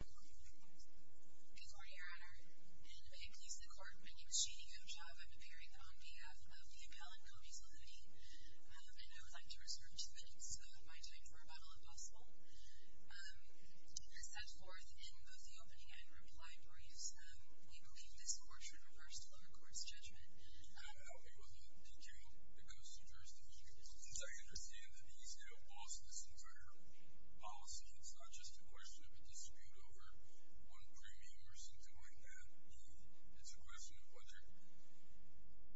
Hey Court, your Honor. In a plea to the Court, my name is Jeanie O'Job. I'm appearing on behalf of the Appellant, Colby's Elhouty, and I would like to reserve two minutes of my time for rebuttal, if possible. As set forth in both the opening and reply briefs, we believe this court should reverse the lower court's judgment. I would help you with that, thank you. It goes to the first of each case. Since I understand that the ECO lost this entire policy, it's not just a question of a dispute over one premium or something like that. It's a question of whether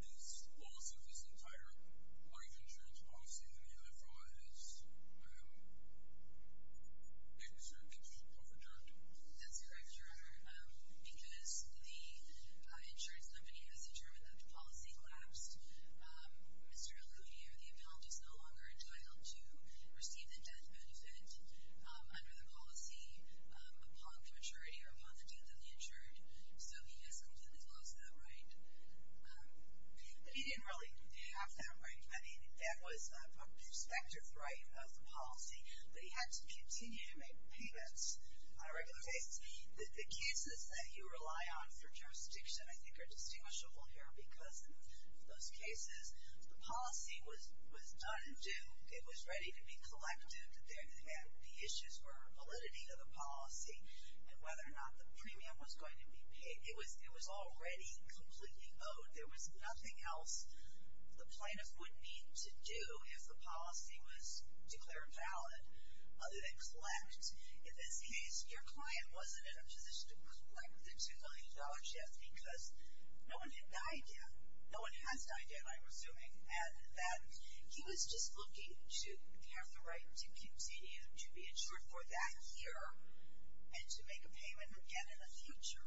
this loss of this entire life insurance policy and the other from it is overjured. That's correct, Your Honor. Because the insurance company has determined that the policy collapsed, Mr. Elhouty or the Appellant is no longer entitled to receive the death benefit under the policy upon the maturity or upon the death of the insured. So he has completely lost that right. He didn't really have that right. I mean, that was a prospective right of the policy, but he had to continue to make payments on a regular basis. The cases that you rely on for jurisdiction, I think, are distinguishable here because in those cases, the policy was undue. It was ready to be collected. The issues were validity of the policy and whether or not the premium was going to be paid. It was already completely owed. There was nothing else the plaintiff would need to do if the policy was declared valid other than collect. In this case, your client wasn't in a position to collect the $2 million debt because no one had died yet. No one has died yet, I'm assuming. And that he was just looking to have the right to continue to be insured for that year and to make a payment again in the future.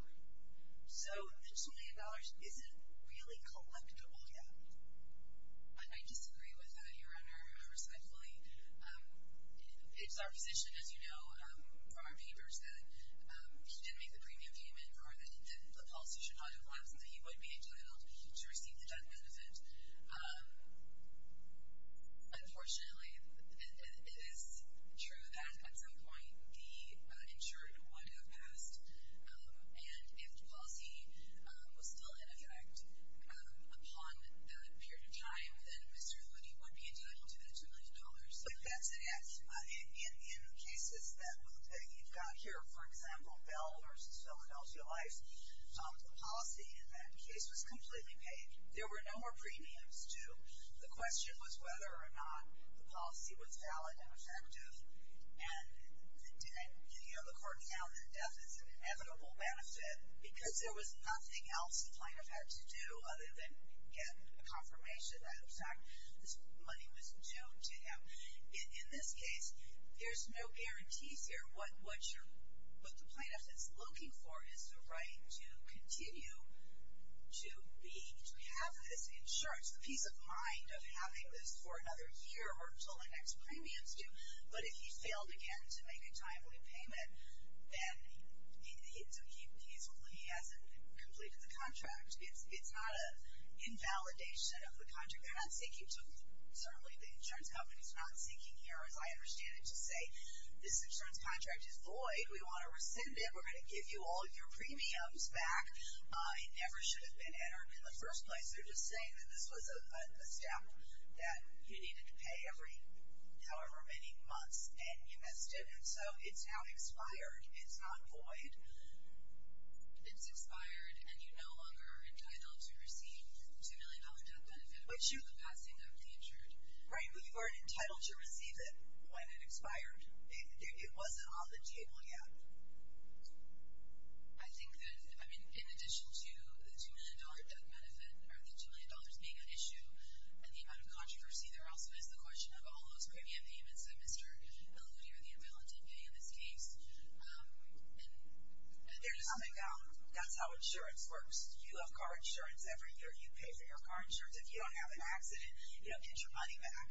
So the $2 million isn't really collectible yet. I disagree with that, Your Honor, respectfully. It's our position, as you know from our papers, that he didn't make the premium payment or that the policy should not have collapsed and that he would be entitled to receive the debt benefit. Unfortunately, it is true that at some point, the insured would have passed. And if the policy was still in effect upon that period of time, then Mr. Hoody would be entitled to the $2 million. But that's it. In cases that you've got here, for example, Bell v. Philadelphia Life, the policy in that case was completely paid. There were no more premiums due. The question was whether or not the policy was valid and effective. And the court found that death is an inevitable benefit because there was nothing else the plaintiff had to do other than get a confirmation that, in fact, this money was due to him. In this case, there's no guarantees here. What the plaintiff is looking for is the right to continue to have this insurance, the peace of mind of having this for another year or until the next premiums due. But if he failed again to make a timely payment, then hopefully he hasn't completed the contract. It's not an invalidation of the contract. Certainly the insurance company is not seeking here, as I understand it, to say this insurance contract is void. We want to rescind it. We're going to give you all of your premiums back. It never should have been entered in the first place. They're just saying that this was a step that he needed to pay every however many months, and he missed it. And so it's now expired. It's not void. It's expired, and you're no longer entitled to receive the $2 million death benefit. But you're the passing of the insured. Right, but you weren't entitled to receive it when it expired. It wasn't on the table yet. I think that, I mean, in addition to the $2 million death benefit or the $2 million being an issue and the amount of controversy, there also is the question of all those premium payments that Mr. Elody or the appellant did pay in this case. There's something else. That's how insurance works. You have car insurance every year. You pay for your car insurance. If you don't have an accident, you don't get your money back.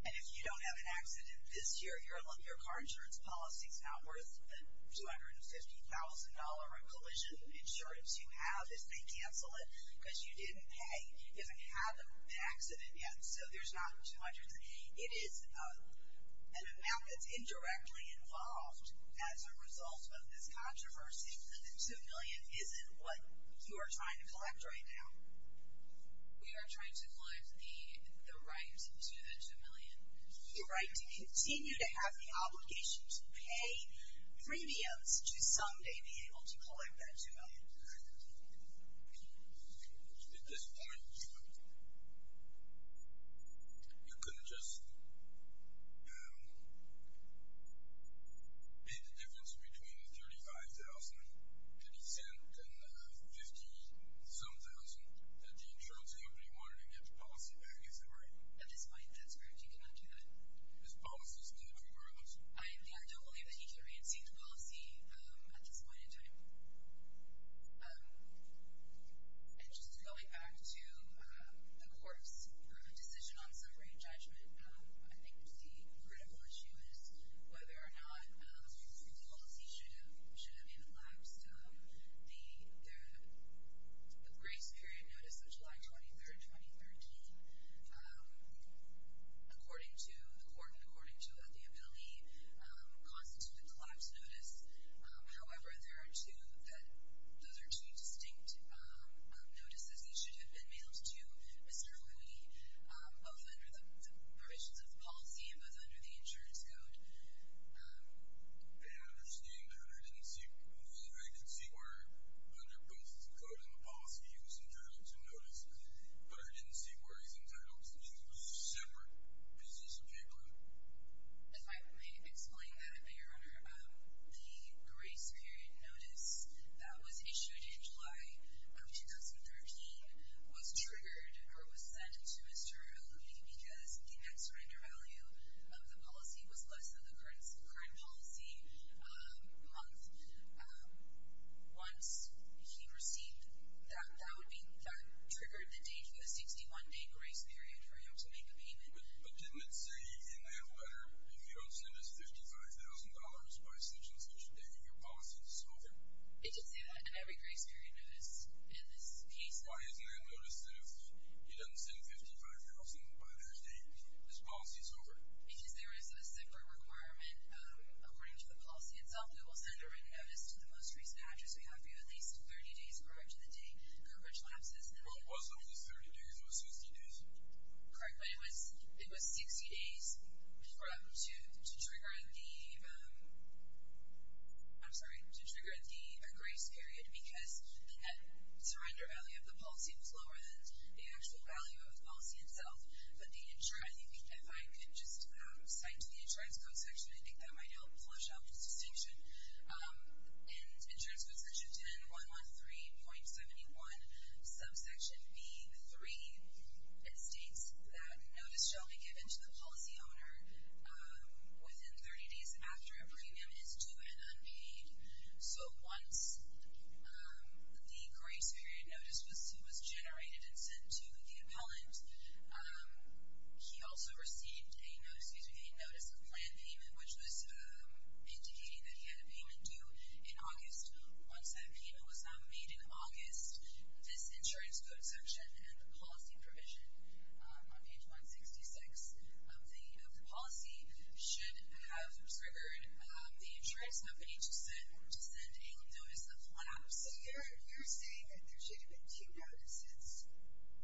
And if you don't have an accident this year, your car insurance policy is not worth the $250,000 of collision insurance you have if they cancel it because you didn't pay, you haven't had an accident yet, so there's not $200,000. It is an amount that's indirectly involved as a result of this controversy. Do you think that the $2 million isn't what you are trying to collect right now? We are trying to collect the right to the $2 million. The right to continue to have the obligation to pay premiums to someday be able to collect that $2 million. At this point, you couldn't just pay the difference between the $35,000 to be sent and the $50-some-thousand that the insurance company wanted to get the policy back, is that right? At this point, that's correct. You cannot do that. Is the policy still in progress? I don't believe that you can reinstate the policy at this point in time. And just going back to the court's decision on summary judgment, I think the critical issue is whether or not the policy should have been elapsed. The grace period notice of July 23rd, 2013, according to the court, according to the ability, constitutes a collapse notice. However, those are two distinct notices that should have been mailed to Mr. Louie, both under the provisions of the policy and both under the insurance code. And I understand that there was a vacancy where under both the code and the policy, he was entitled to notice, but I didn't see where he's entitled to. I mean, those are separate. Is this appropriate? If I may explain that, Your Honor, the grace period notice that was issued in July of 2013 was triggered or was sent to Mr. Louie because the net surrender value of the policy was less than the current policy month. Once he received that, that triggered the date of the 61-day grace period for him to make a payment. But didn't it say in the letter, if you don't send us $55,000 by such-and-such date, your policy is over? It did say that in every grace period notice in this case. Why isn't there a notice that if he doesn't send $55,000 by that date, his policy is over? Because there is a separate requirement, according to the policy itself, that we'll send a written notice to the most recent actor, so you have to give at least 30 days prior to the date coverage lapses. Well, it wasn't just 30 days, it was 60 days. Correct, but it was 60 days to trigger the grace period because the net surrender value of the policy was lower than the actual value of the policy itself. If I could just cite to the insurance code section, I think that might help flush out the distinction. In insurance code section 10113.71, subsection B3, it states that notice shall be given to the policy owner within 30 days after a premium is due and unpaid. So once the grace period notice was generated and sent to the appellant, he also received a notice of planned payment, which was indicating that he had a payment due in August. Once that payment was made in August, this insurance code section and the policy provision on page 166 of the policy should have triggered the insurance company to send a notice of lapse. So you're saying that there should have been two notices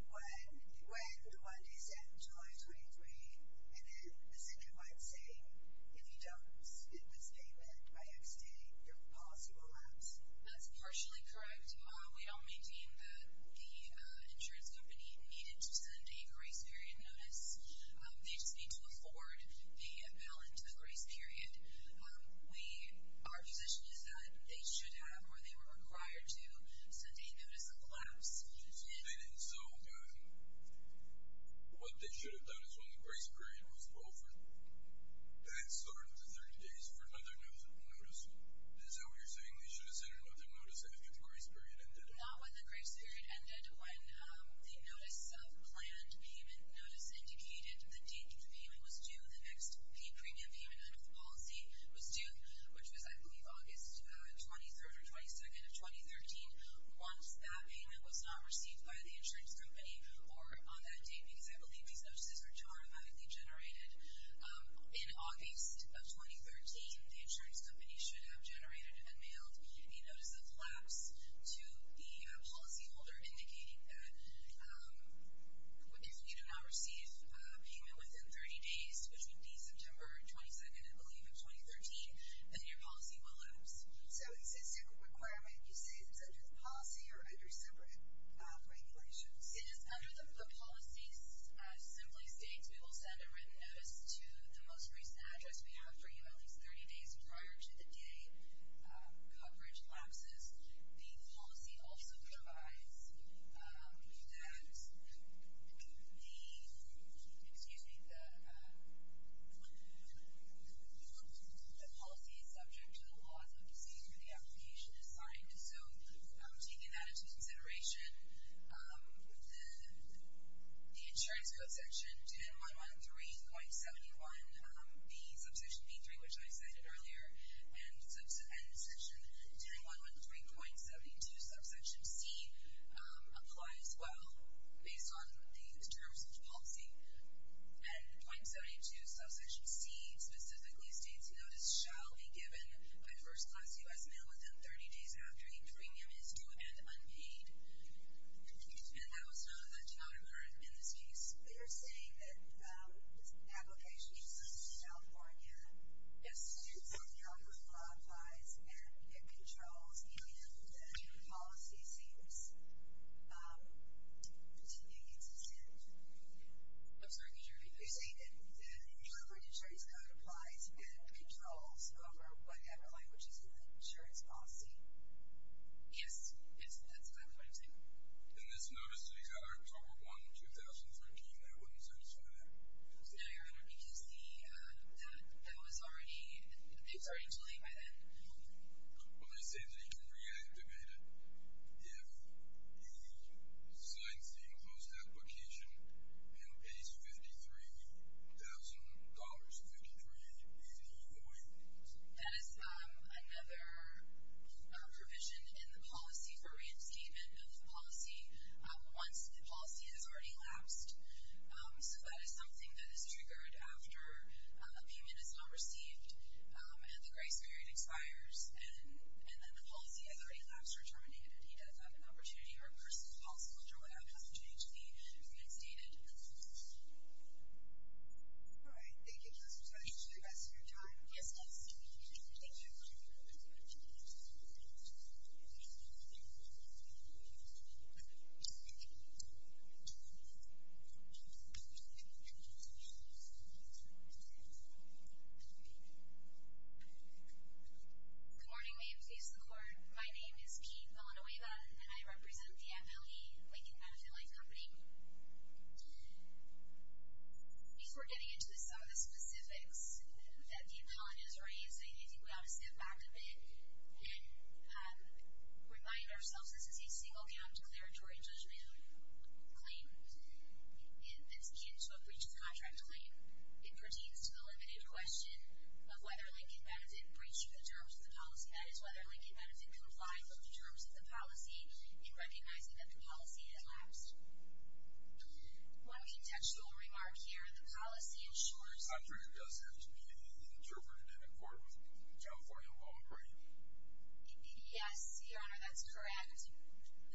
when the Monday sent, July 23, and then a second one saying if you don't submit this payment by next day, your policy will lapse. That's partially correct. We all maintain that the insurance company needed to send a grace period notice. They just need to afford the appellant to the grace period. Our position is that they should have or they were required to send a notice of lapse. So what they should have done is when the grace period was over, they had started the 30 days for another notice. Is that what you're saying? They should have sent another notice after the grace period ended? Not when the grace period ended. When the notice of planned payment notice indicated the date the payment was due, the next premium payment under the policy was due, which was, I believe, August 23rd or 22nd of 2013. Once that payment was not received by the insurance company or on that date, because I believe these notices were automatically generated in August of 2013, the insurance company should have generated and mailed a notice of lapse to the policyholder, indicating that if you do not receive payment within 30 days, which would be September 22nd, I believe, of 2013, then your policy will lapse. So it's a separate requirement. You say it's under the policy or under separate regulations? It is under the policy. The policy simply states we will send a written notice to the most recent address we have for you at least 30 days prior to the date coverage lapses. The policy also provides that the policy is subject to the laws of the disease where the application is signed. So taking that into consideration, the insurance code section 10.113.71, the subsection B3, which I cited earlier, and section 10.113.72, subsection C, apply as well based on the terms of the policy. And .72, subsection C specifically states notice shall be given by first-class U.S. mail within 30 days after the premium is due and unpaid. And that was not a requirement in this case. You're saying that this application is signed in California? Yes, it is signed in California. It applies and it controls, meaning that the policy seems to be consistent. I'm sorry, could you repeat that? You're saying that the California insurance code applies and controls over whatever language is in the insurance policy? Yes, that's exactly what I'm saying. In this notice, October 1, 2013, that wouldn't satisfy that? No, Your Honor. You can see that that was already, things were already delayed by then. Well, they say that you can reactivate it. If he signs the imposed application and pays $53,053, is he void? That is another provision in the policy for re-obtainment of the policy once the policy has already elapsed. So that is something that is triggered after a payment is not received and the grace period expires and then the policy has already elapsed or terminated. He does have an opportunity to reverse the policy or draw out an opportunity to be reinstated. All right, thank you. Do you have some questions for the rest of your time? Yes, yes. Thank you. I'm going to go ahead and turn it over to the attorney general to talk about the next step in the process of getting a new policy. So, I'm going to turn it over to the attorney general. Thank you. I'm going to turn it over to the attorney general to talk about the next step in the process of getting a new policy. Good morning, ma'am. Please record. My name is Kate Villanueva, and I represent the Appellee Lincoln Benefit Life Company. Before getting into some of the specifics that the appellant has raised, I think we ought to step back a bit and remind ourselves this is a single count declaratory judgment claim that's akin to a breach of contract claim. It pertains to the limited question of whether Lincoln Benefit breached the terms of the policy. That is, whether Lincoln Benefit complied with the terms of the policy in recognizing that the policy had elapsed. One contextual remark here, the policy ensures that it does have to be interpreted in accord with California law, correct? Yes, Your Honor, that's correct.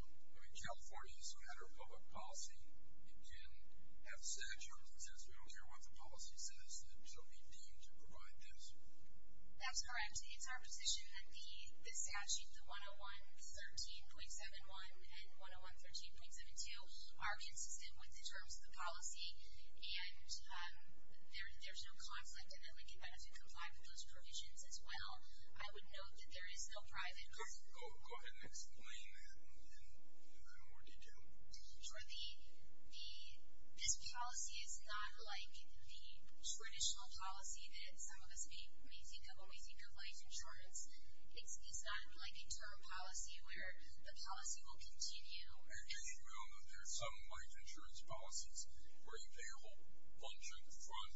I mean, California is a matter of public policy. It can have said terms and sense. We don't care what the policy says, so we deem to provide this. That's correct. It's our position that the statute, the 101-13.71 and 101-13.72, are consistent with the terms of the policy, and there's no conflict in that Lincoln Benefit complied with those provisions as well. I would note that there is no private policy. Go ahead and explain that in more detail. Sure. This policy is not like the traditional policy that some of us may think of when we think of life insurance. It's not like a term policy where the policy will continue. Actually, Your Honor, there are some life insurance policies where you pay a whole bunch of the fund,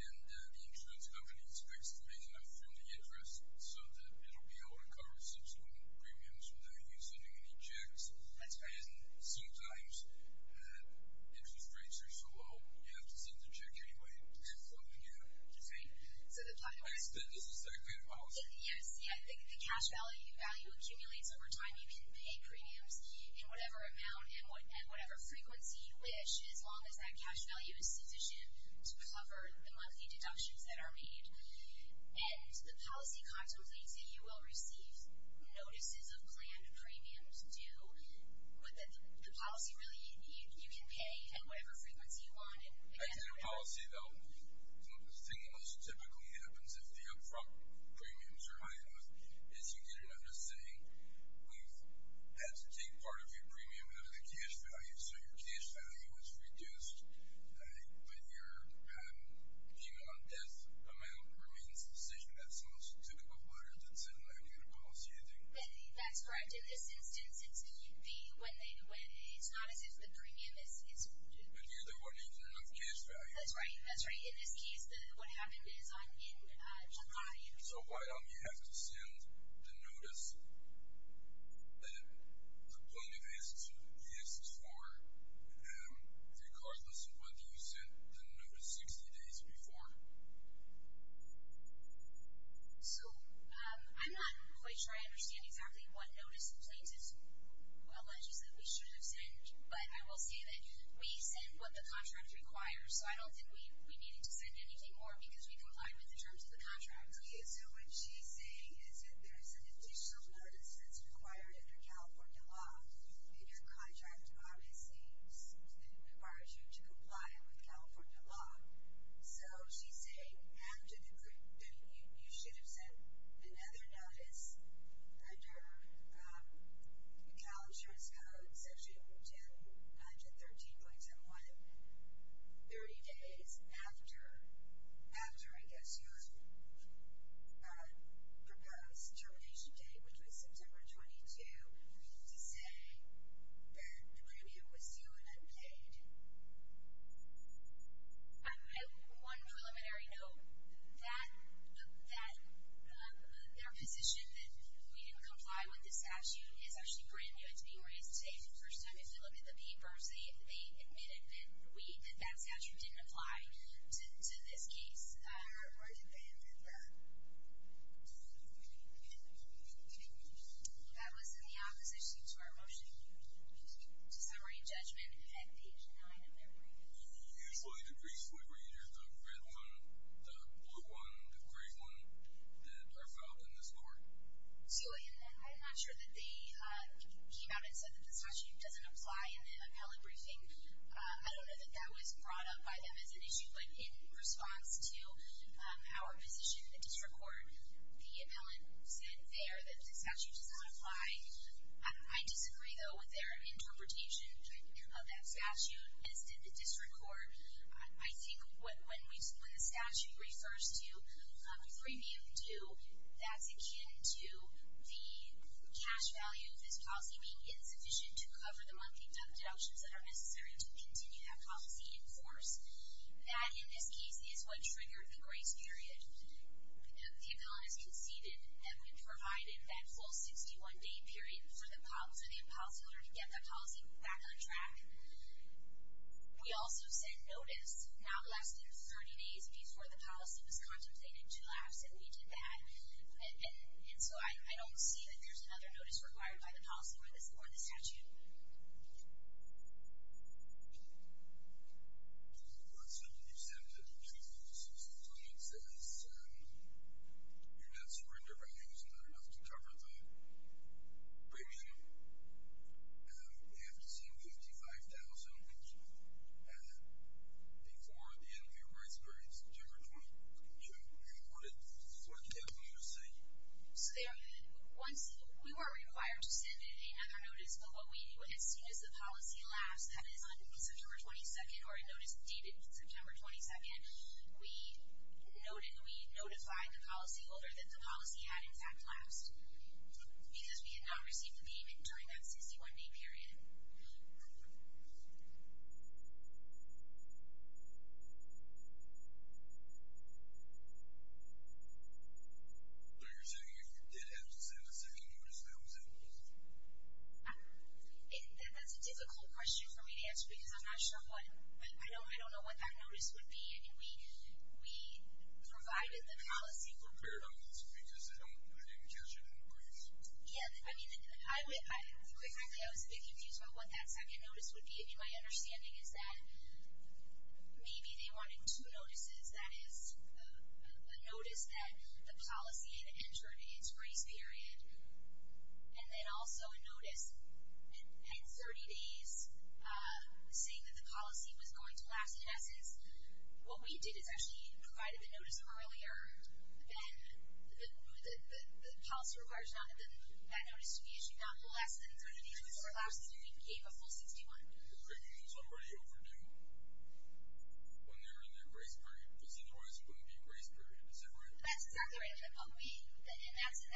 and the insurance company expects to make enough from the interest so that it will be able to cover subsequent premiums without you sending any checks. That's right. And sometimes interest rates are so low, you have to send the check anyway to get funding in. That's right. This is that kind of policy. Yes, I think the cash value accumulates over time. You can pay premiums in whatever amount and whatever frequency you wish, as long as that cash value is sufficient to cover the monthly deductions that are made. And the policy contemplates that you will receive notices of planned premiums due, but the policy really, you can pay at whatever frequency you want. Actually, the policy, though, the thing that most typically happens if the upfront premiums are high enough is you get an understatement. We've had to take part of your premium out of the cash value, so your cash value is reduced, but your payment on death amount remains sufficient. That's the most typical pattern that's in a life insurance policy, I think. That's correct. In this instance, it's not as if the premium is sufficient. But you're the one using enough cash value. That's right, that's right. In this case, what happened is in July. So why do you have to send the notice that the plaintiff is for regardless of when you sent the notice 60 days before? So I'm not quite sure I understand exactly what notice the plaintiff alleges that we should have sent, but I will say that we send what the contract requires, so I don't think we need to send anything more because we comply with the terms of the contract. Okay. So what she's saying is that there's an additional notice that's required under California law, and your contract obviously requires you to comply with California law. So she's saying after you should have sent another notice under Cal Insurance Code Section 109 to 13.01, 30 days after, I guess, your proposed termination date, which was September 22, you need to say that the premium was due and unpaid. On one preliminary note, that their position that we didn't comply with the statute is actually brand new. It's being raised today for the first time. If you look at the papers, they admitted that we, that that statute didn't apply to this case. That was in the opposition to our motion to summarize judgment at page 9 of the report. Usually the brief would be either the red one, the blue one, the gray one that are filed in this court. So I'm not sure that they came out and said that the statute doesn't apply in the appellate briefing. I don't know that that was brought up by them as an issue, but in response to our position in the district court, the appellate said there that the statute does not apply. I disagree, though, with their interpretation of that statute as did the district court. I think when the statute refers to a premium due, that's akin to the cash value of this policy being insufficient to cover the monthly debt deductions that are necessary to continue that policy in force. That, in this case, is what triggered the grace period. The appellant has conceded that we provided that full 61-day period for the policyholder to get the policy back on track. We also sent notice not less than 30 days before the policy was contemplated to lapse, and we did that. And so I don't see that there's another notice required by the policyholder for the statute. Do you have a question? Do you have a question? You said that the 2006 appellant says your net surrender value is not enough to cover the premium. We have to send $55,000 before the end of your grace period, September 22. And what did the appellant say? We were required to send another notice, but what we knew, as soon as the policy lapsed, that is on September 22, or a notice dated September 22, we notified the policyholder that the policy had in fact lapsed, because we had not received the payment during that 61-day period. So you're saying if you did have to send a second notice, that was it? That's a difficult question for me to answer, because I'm not sure what, I don't know what that notice would be. I mean, we provided the policy. I'm not prepared on this, because I didn't catch it on grace. Yeah, I mean, I was thinking things about what that second notice would be, and my understanding is that maybe they wanted two notices, that is, a notice that the policy had entered its grace period, and then also a notice in 30 days saying that the policy was going to lapse in essence. What we did is actually provided the notice earlier, and the policyholders wanted that notice to be issued not less than 30 days, but it still lapsed, and we gave a full 61. Does that mean somebody overdue when they're in their grace period? Because otherwise it wouldn't be grace period, is that right? That's exactly right. And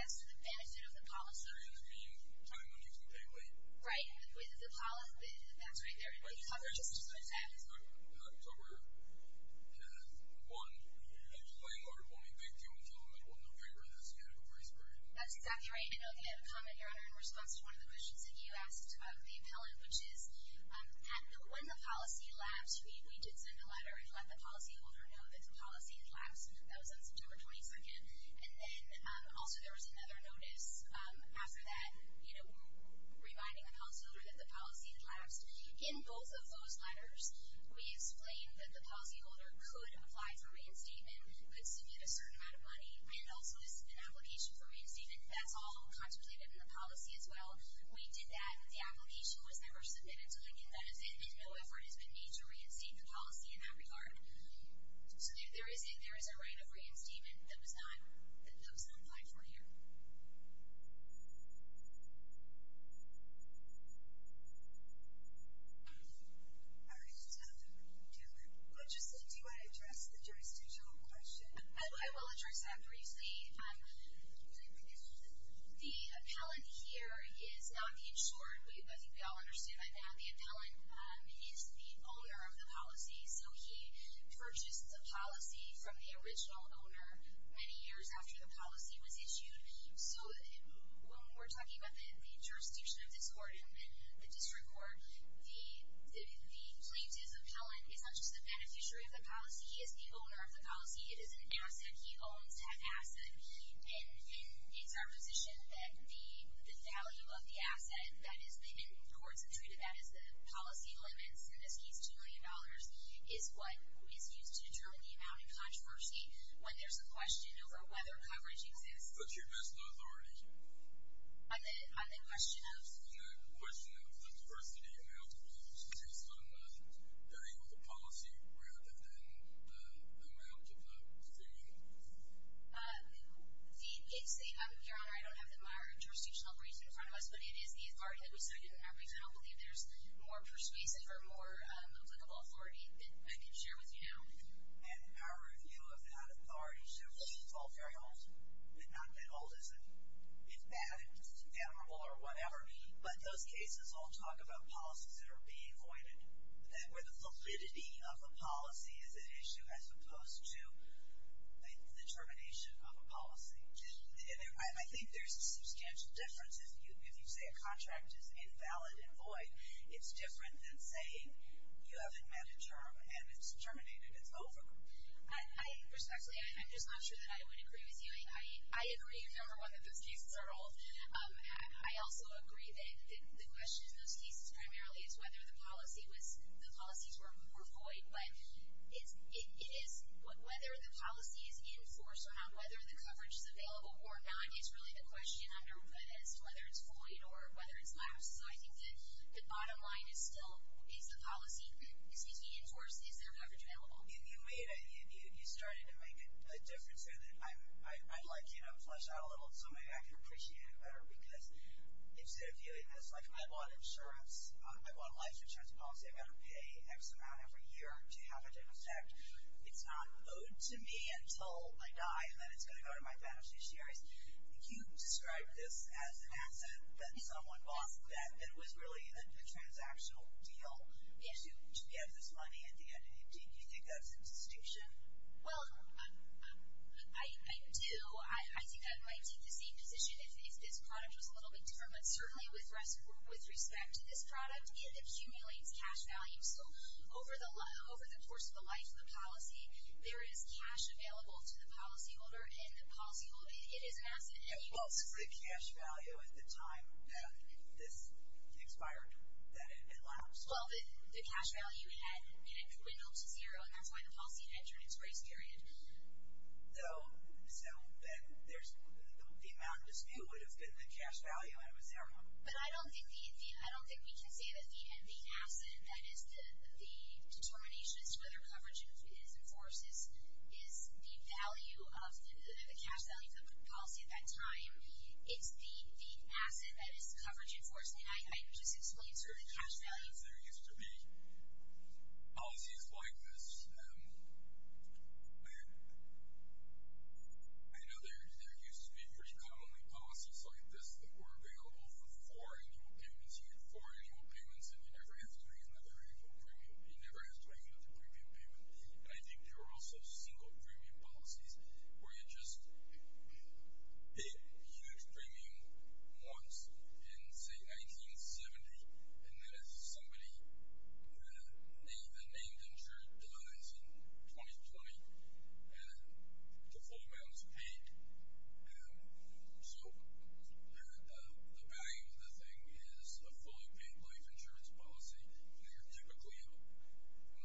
that's to the benefit of the policyholder. Does that mean time on YouTube can't wait? Right. That's right there. Can you talk about just what that is? Can I talk about it? One, if you're playing hardball, you can't deal with someone that wasn't on paper in that span of a grace period. That's exactly right. I know you had a comment, Your Honor, in response to one of the questions that you asked about the appellant, which is when the policy lapsed, we did send a letter and let the policyholder know that the policy had lapsed. That was on September 22nd. And then also there was another notice after that, you know, reminding the policyholder that the policy had lapsed. In both of those letters, we explained that the policyholder could apply for reinstatement, could submit a certain amount of money, and also is in an application for reinstatement. That's all contemplated in the policy as well. We did that. The application was never submitted to Lincoln Medicine, and no effort has been made to reinstate the policy in that regard. So there is a right of reinstatement that was not applied for here. All right. Do you want to address the jurisdictional question? I will address that briefly. The appellant here is not the insured. I think we all understand that. The appellant is the owner of the policy. So he purchased the policy from the original owner many years after the policy was issued. So when we're talking about the jurisdiction of this court and the district court, the plaintiff's appellant is not just the beneficiary of the policy. He is the owner of the policy. It is an asset. He owns that asset. And it's our position that the value of the asset that has been in courts and treated that as the policy limits, in this case $2 million, is what is used to determine the amount of controversy when there's a question over whether coverage exists. But you missed the authority. On the question of? On the question of the diversity and the amount of use based on the value of the policy rather than the amount of the authority. Your Honor, I don't have the jurisdictional briefs in front of us, but it is the authority that we cited in our briefs, and I don't believe there's more persuasive or more applicable authority that I can share with you now. And our review of that authority certainly is not that old. It's not that old, isn't it? It's bad. It's not admirable or whatever. But those cases all talk about policies that are being avoided, where the validity of a policy is an issue as opposed to the termination of a policy. And I think there's a substantial difference. If you say a contract is invalid and void, it's different than saying you haven't met a term and it's terminated, it's over. Respectfully, I'm just not sure that I would agree with you. I agree, number one, that those cases are old. I also agree that the question in those cases primarily is whether the policies were void. But it is whether the policy is enforced or not, whether the coverage is available or not, is really the question as to whether it's void or whether it's lapsed. So I think that the bottom line is still, is the policy, excuse me, enforced? Is there coverage available? You started to make a difference there that I'd like to flesh out a little so maybe I can appreciate it better because instead of doing this, like, I bought insurance, I bought a life insurance policy, I've got to pay X amount every year to have it in effect. It's not owed to me until I die and then it's going to go to my beneficiaries. You described this as an asset that someone bought that it was really a transactional deal to get this money at the end of the day. Do you think that's a distinction? Well, I do. I think I might take the same position if this product was a little bit different. But certainly with respect to this product, it accumulates cash value. So over the course of the life of the policy, there is cash available to the policyholder and the policyholder, it is an asset anyway. Well, so the cash value at the time that this expired, that it lapsed? Well, the cash value had crinkled to zero, and that's why the policy had turned into a race period. So then the amount dispute would have been the cash value and it was there longer. But I don't think we can say that the asset that is the determination as to whether coverage is enforced is the value of the cash value of the policy at that time. It's the asset that is coverage enforced. So I guess it's not certainly cash value. There used to be policies like this. I know there used to be very commonly policies like this that were available for four annual payments. You had four annual payments and you never have to bring in another annual premium. You never have to bring in another premium payment. I think there were also single premium policies where you just paid huge premium once in, say, 1970, and then if somebody, the named insured dies in 2020, the full amount is paid. So the value of the thing is a fully paid life insurance policy, and they are typically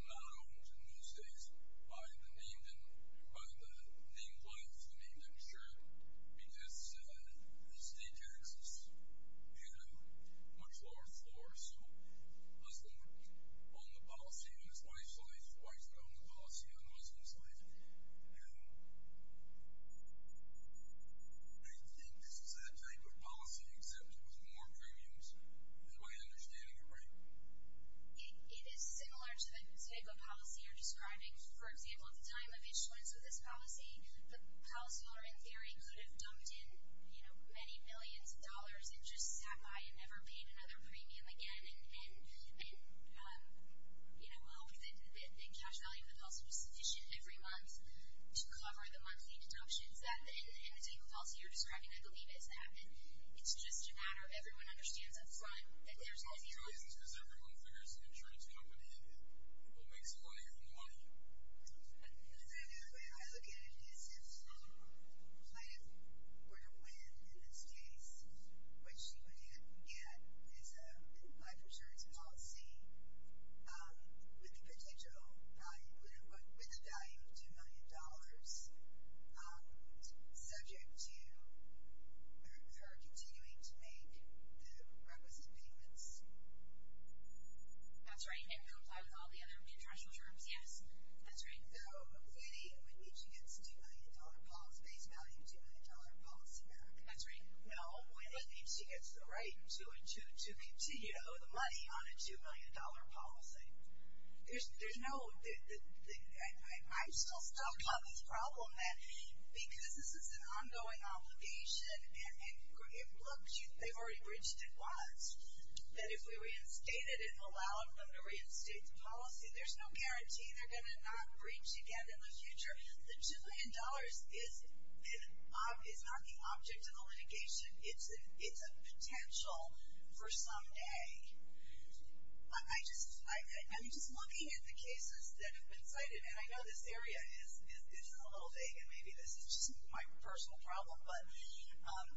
not owned in those days by the named life, the named insured, because the state taxes had a much lower floor. So a Muslim owned the policy in his wife's life. A white man owned the policy in a Muslim's life. I don't think this is that type of policy, except it was more premiums. Is my understanding correct? It is similar to the type of policy you're describing. For example, at the time of issuance of this policy, the policyholder in theory could have dumped in many millions of dollars and just sat by and never paid another premium again. Well, we think the cash value of the policy was sufficient every month to cover the monthly deductions at the end of the day. The policy you're describing, I believe, is that. It's just a matter of everyone understands up front that there's healthy choices. Because everyone figures an insurance company will make some money from the money. The way I look at it is if a plan were to win in this case, what she would get is a life insurance policy with a value of $2 million subject to her continuing to make the requisite payments. That's right. It would comply with all the other international terms, yes. That's right. Though, if any, it would need to get its $2 million base value, $2 million policy back. That's right. No, if she gets the right to continue to owe the money on a $2 million policy. I'm still stuck on this problem that because this is an ongoing obligation, and look, they've already breached it once, that if we reinstate it and allow them to reinstate the policy, there's no guarantee they're going to not breach again in the future. The $2 million is not the object of the litigation. It's a potential for someday. I'm just looking at the cases that have been cited, and I know this area is a little vague, and maybe this is just my personal problem, but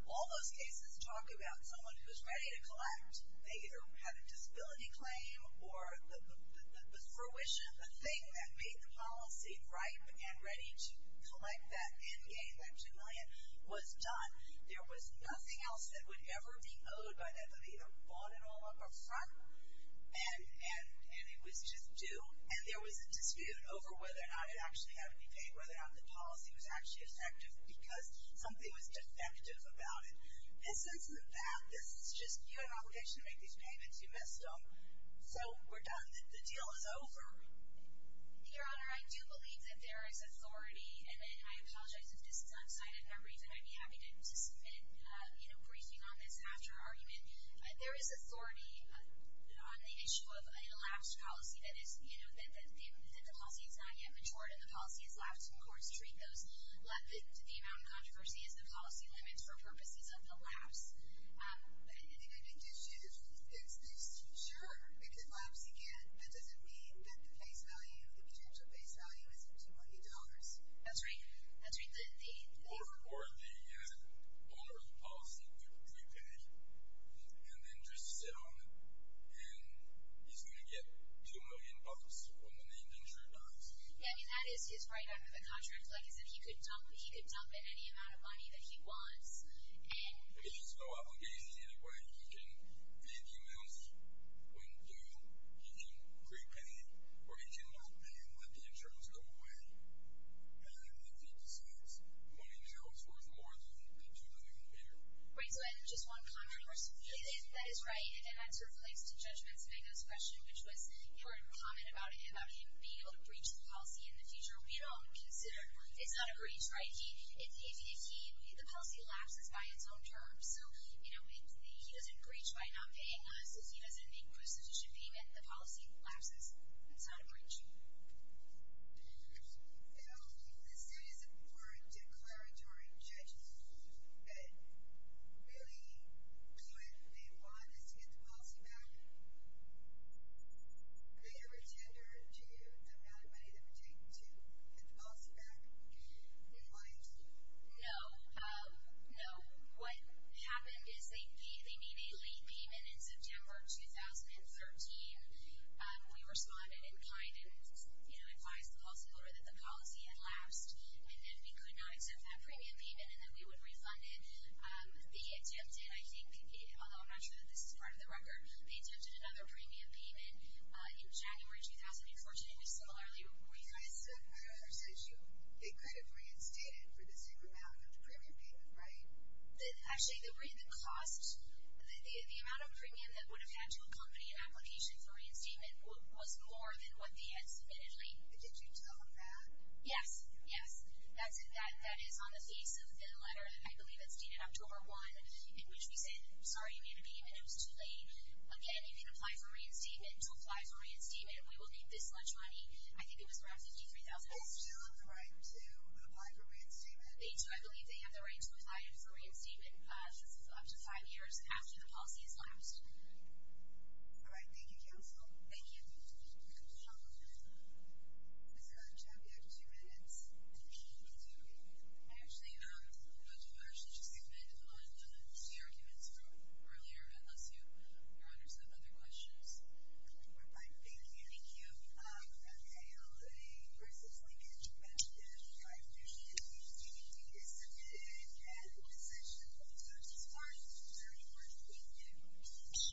all those cases talk about someone who's ready to collect. They either have a disability claim or the fruition, the thing that made the policy ripe and ready to collect that end game, that $2 million, was done. There was nothing else that would ever be owed by them. They either bought it all up up front, and it was just due, and there was a dispute over whether or not it actually had to be paid, whether or not the policy was actually effective, because something was defective about it. And since the fact, this is just you have an obligation to make these payments. You missed them, so we're done. The deal is over. Your Honor, I do believe that there is authority, and I apologize if this is outside of memory, but I'd be happy to participate in breaking on this after argument. There is authority on the issue of a lapse policy, that the policy has not yet matured, and the policy has lapsed, and courts treat the amount of controversy as the policy limits for purposes of the lapse. I think the issue is, sure, if it lapses again, that doesn't mean that the potential base value isn't $2 million. That's right. Or the owner of the policy could prepay, and then just sit on it, and he's going to get $2 million when the name danger dies. Yeah, I mean, that is his right under the contract. Like I said, he could dump any amount of money that he wants. He has no obligation either way. He can pay the amounts when due. He can prepay, or he can not pay and let the insurance go away, and then he decides money now is worth more than $2 million later. Right, so just one comment, of course. That is right, and that sort of relates to Judgment's biggest question, which was your comment about him being able to breach the policy in the future. We don't consider it's not a breach, right? If the policy lapses by its own terms. So, you know, he doesn't breach by not paying us. If he doesn't make a prostitution payment, the policy lapses. It's not a breach. You know, the status of court declaratory judges that really do what they want is to get the policy back. They never tender to the amount of money they would take to get the policy back. And why is that? No. No. What happened is they made a late payment in September of 2013. We responded in kind and, you know, advised the policy holder that the policy had lapsed, and then we could not accept that premium payment, and then we would refund it. They attempted, I think, although I'm not sure that this is part of the record, they attempted another premium payment in January 2014, and it was similarly refused. I said I understand you. They could have reinstated for the same amount of premium payment, right? Actually, the cost, the amount of premium that would have had to accompany an application for reinstatement was more than what they had submitted late. Did you tell them that? Yes. Yes. That is on the face of the letter, I believe it's dated October 1, in which we said, Sorry, you made a payment. It was too late. Again, you can apply for reinstatement. Don't apply for reinstatement. We will need this much money. I think it was roughly $53,000. They still have the right to apply for reinstatement. They do. I believe they have the right to apply for reinstatement, since it's up to five years after the policy has lapsed. All right. Thank you, counsel. Thank you. Thank you, counsel. Is there a time gap of two minutes? I think we do. I actually don't know if I should just comment on the arguments from earlier, unless you want to set other questions. I think getting you unveiled a person's signature back to the judge, I appreciate it. We think it is a good and essential part of this court, and it's very important that we do.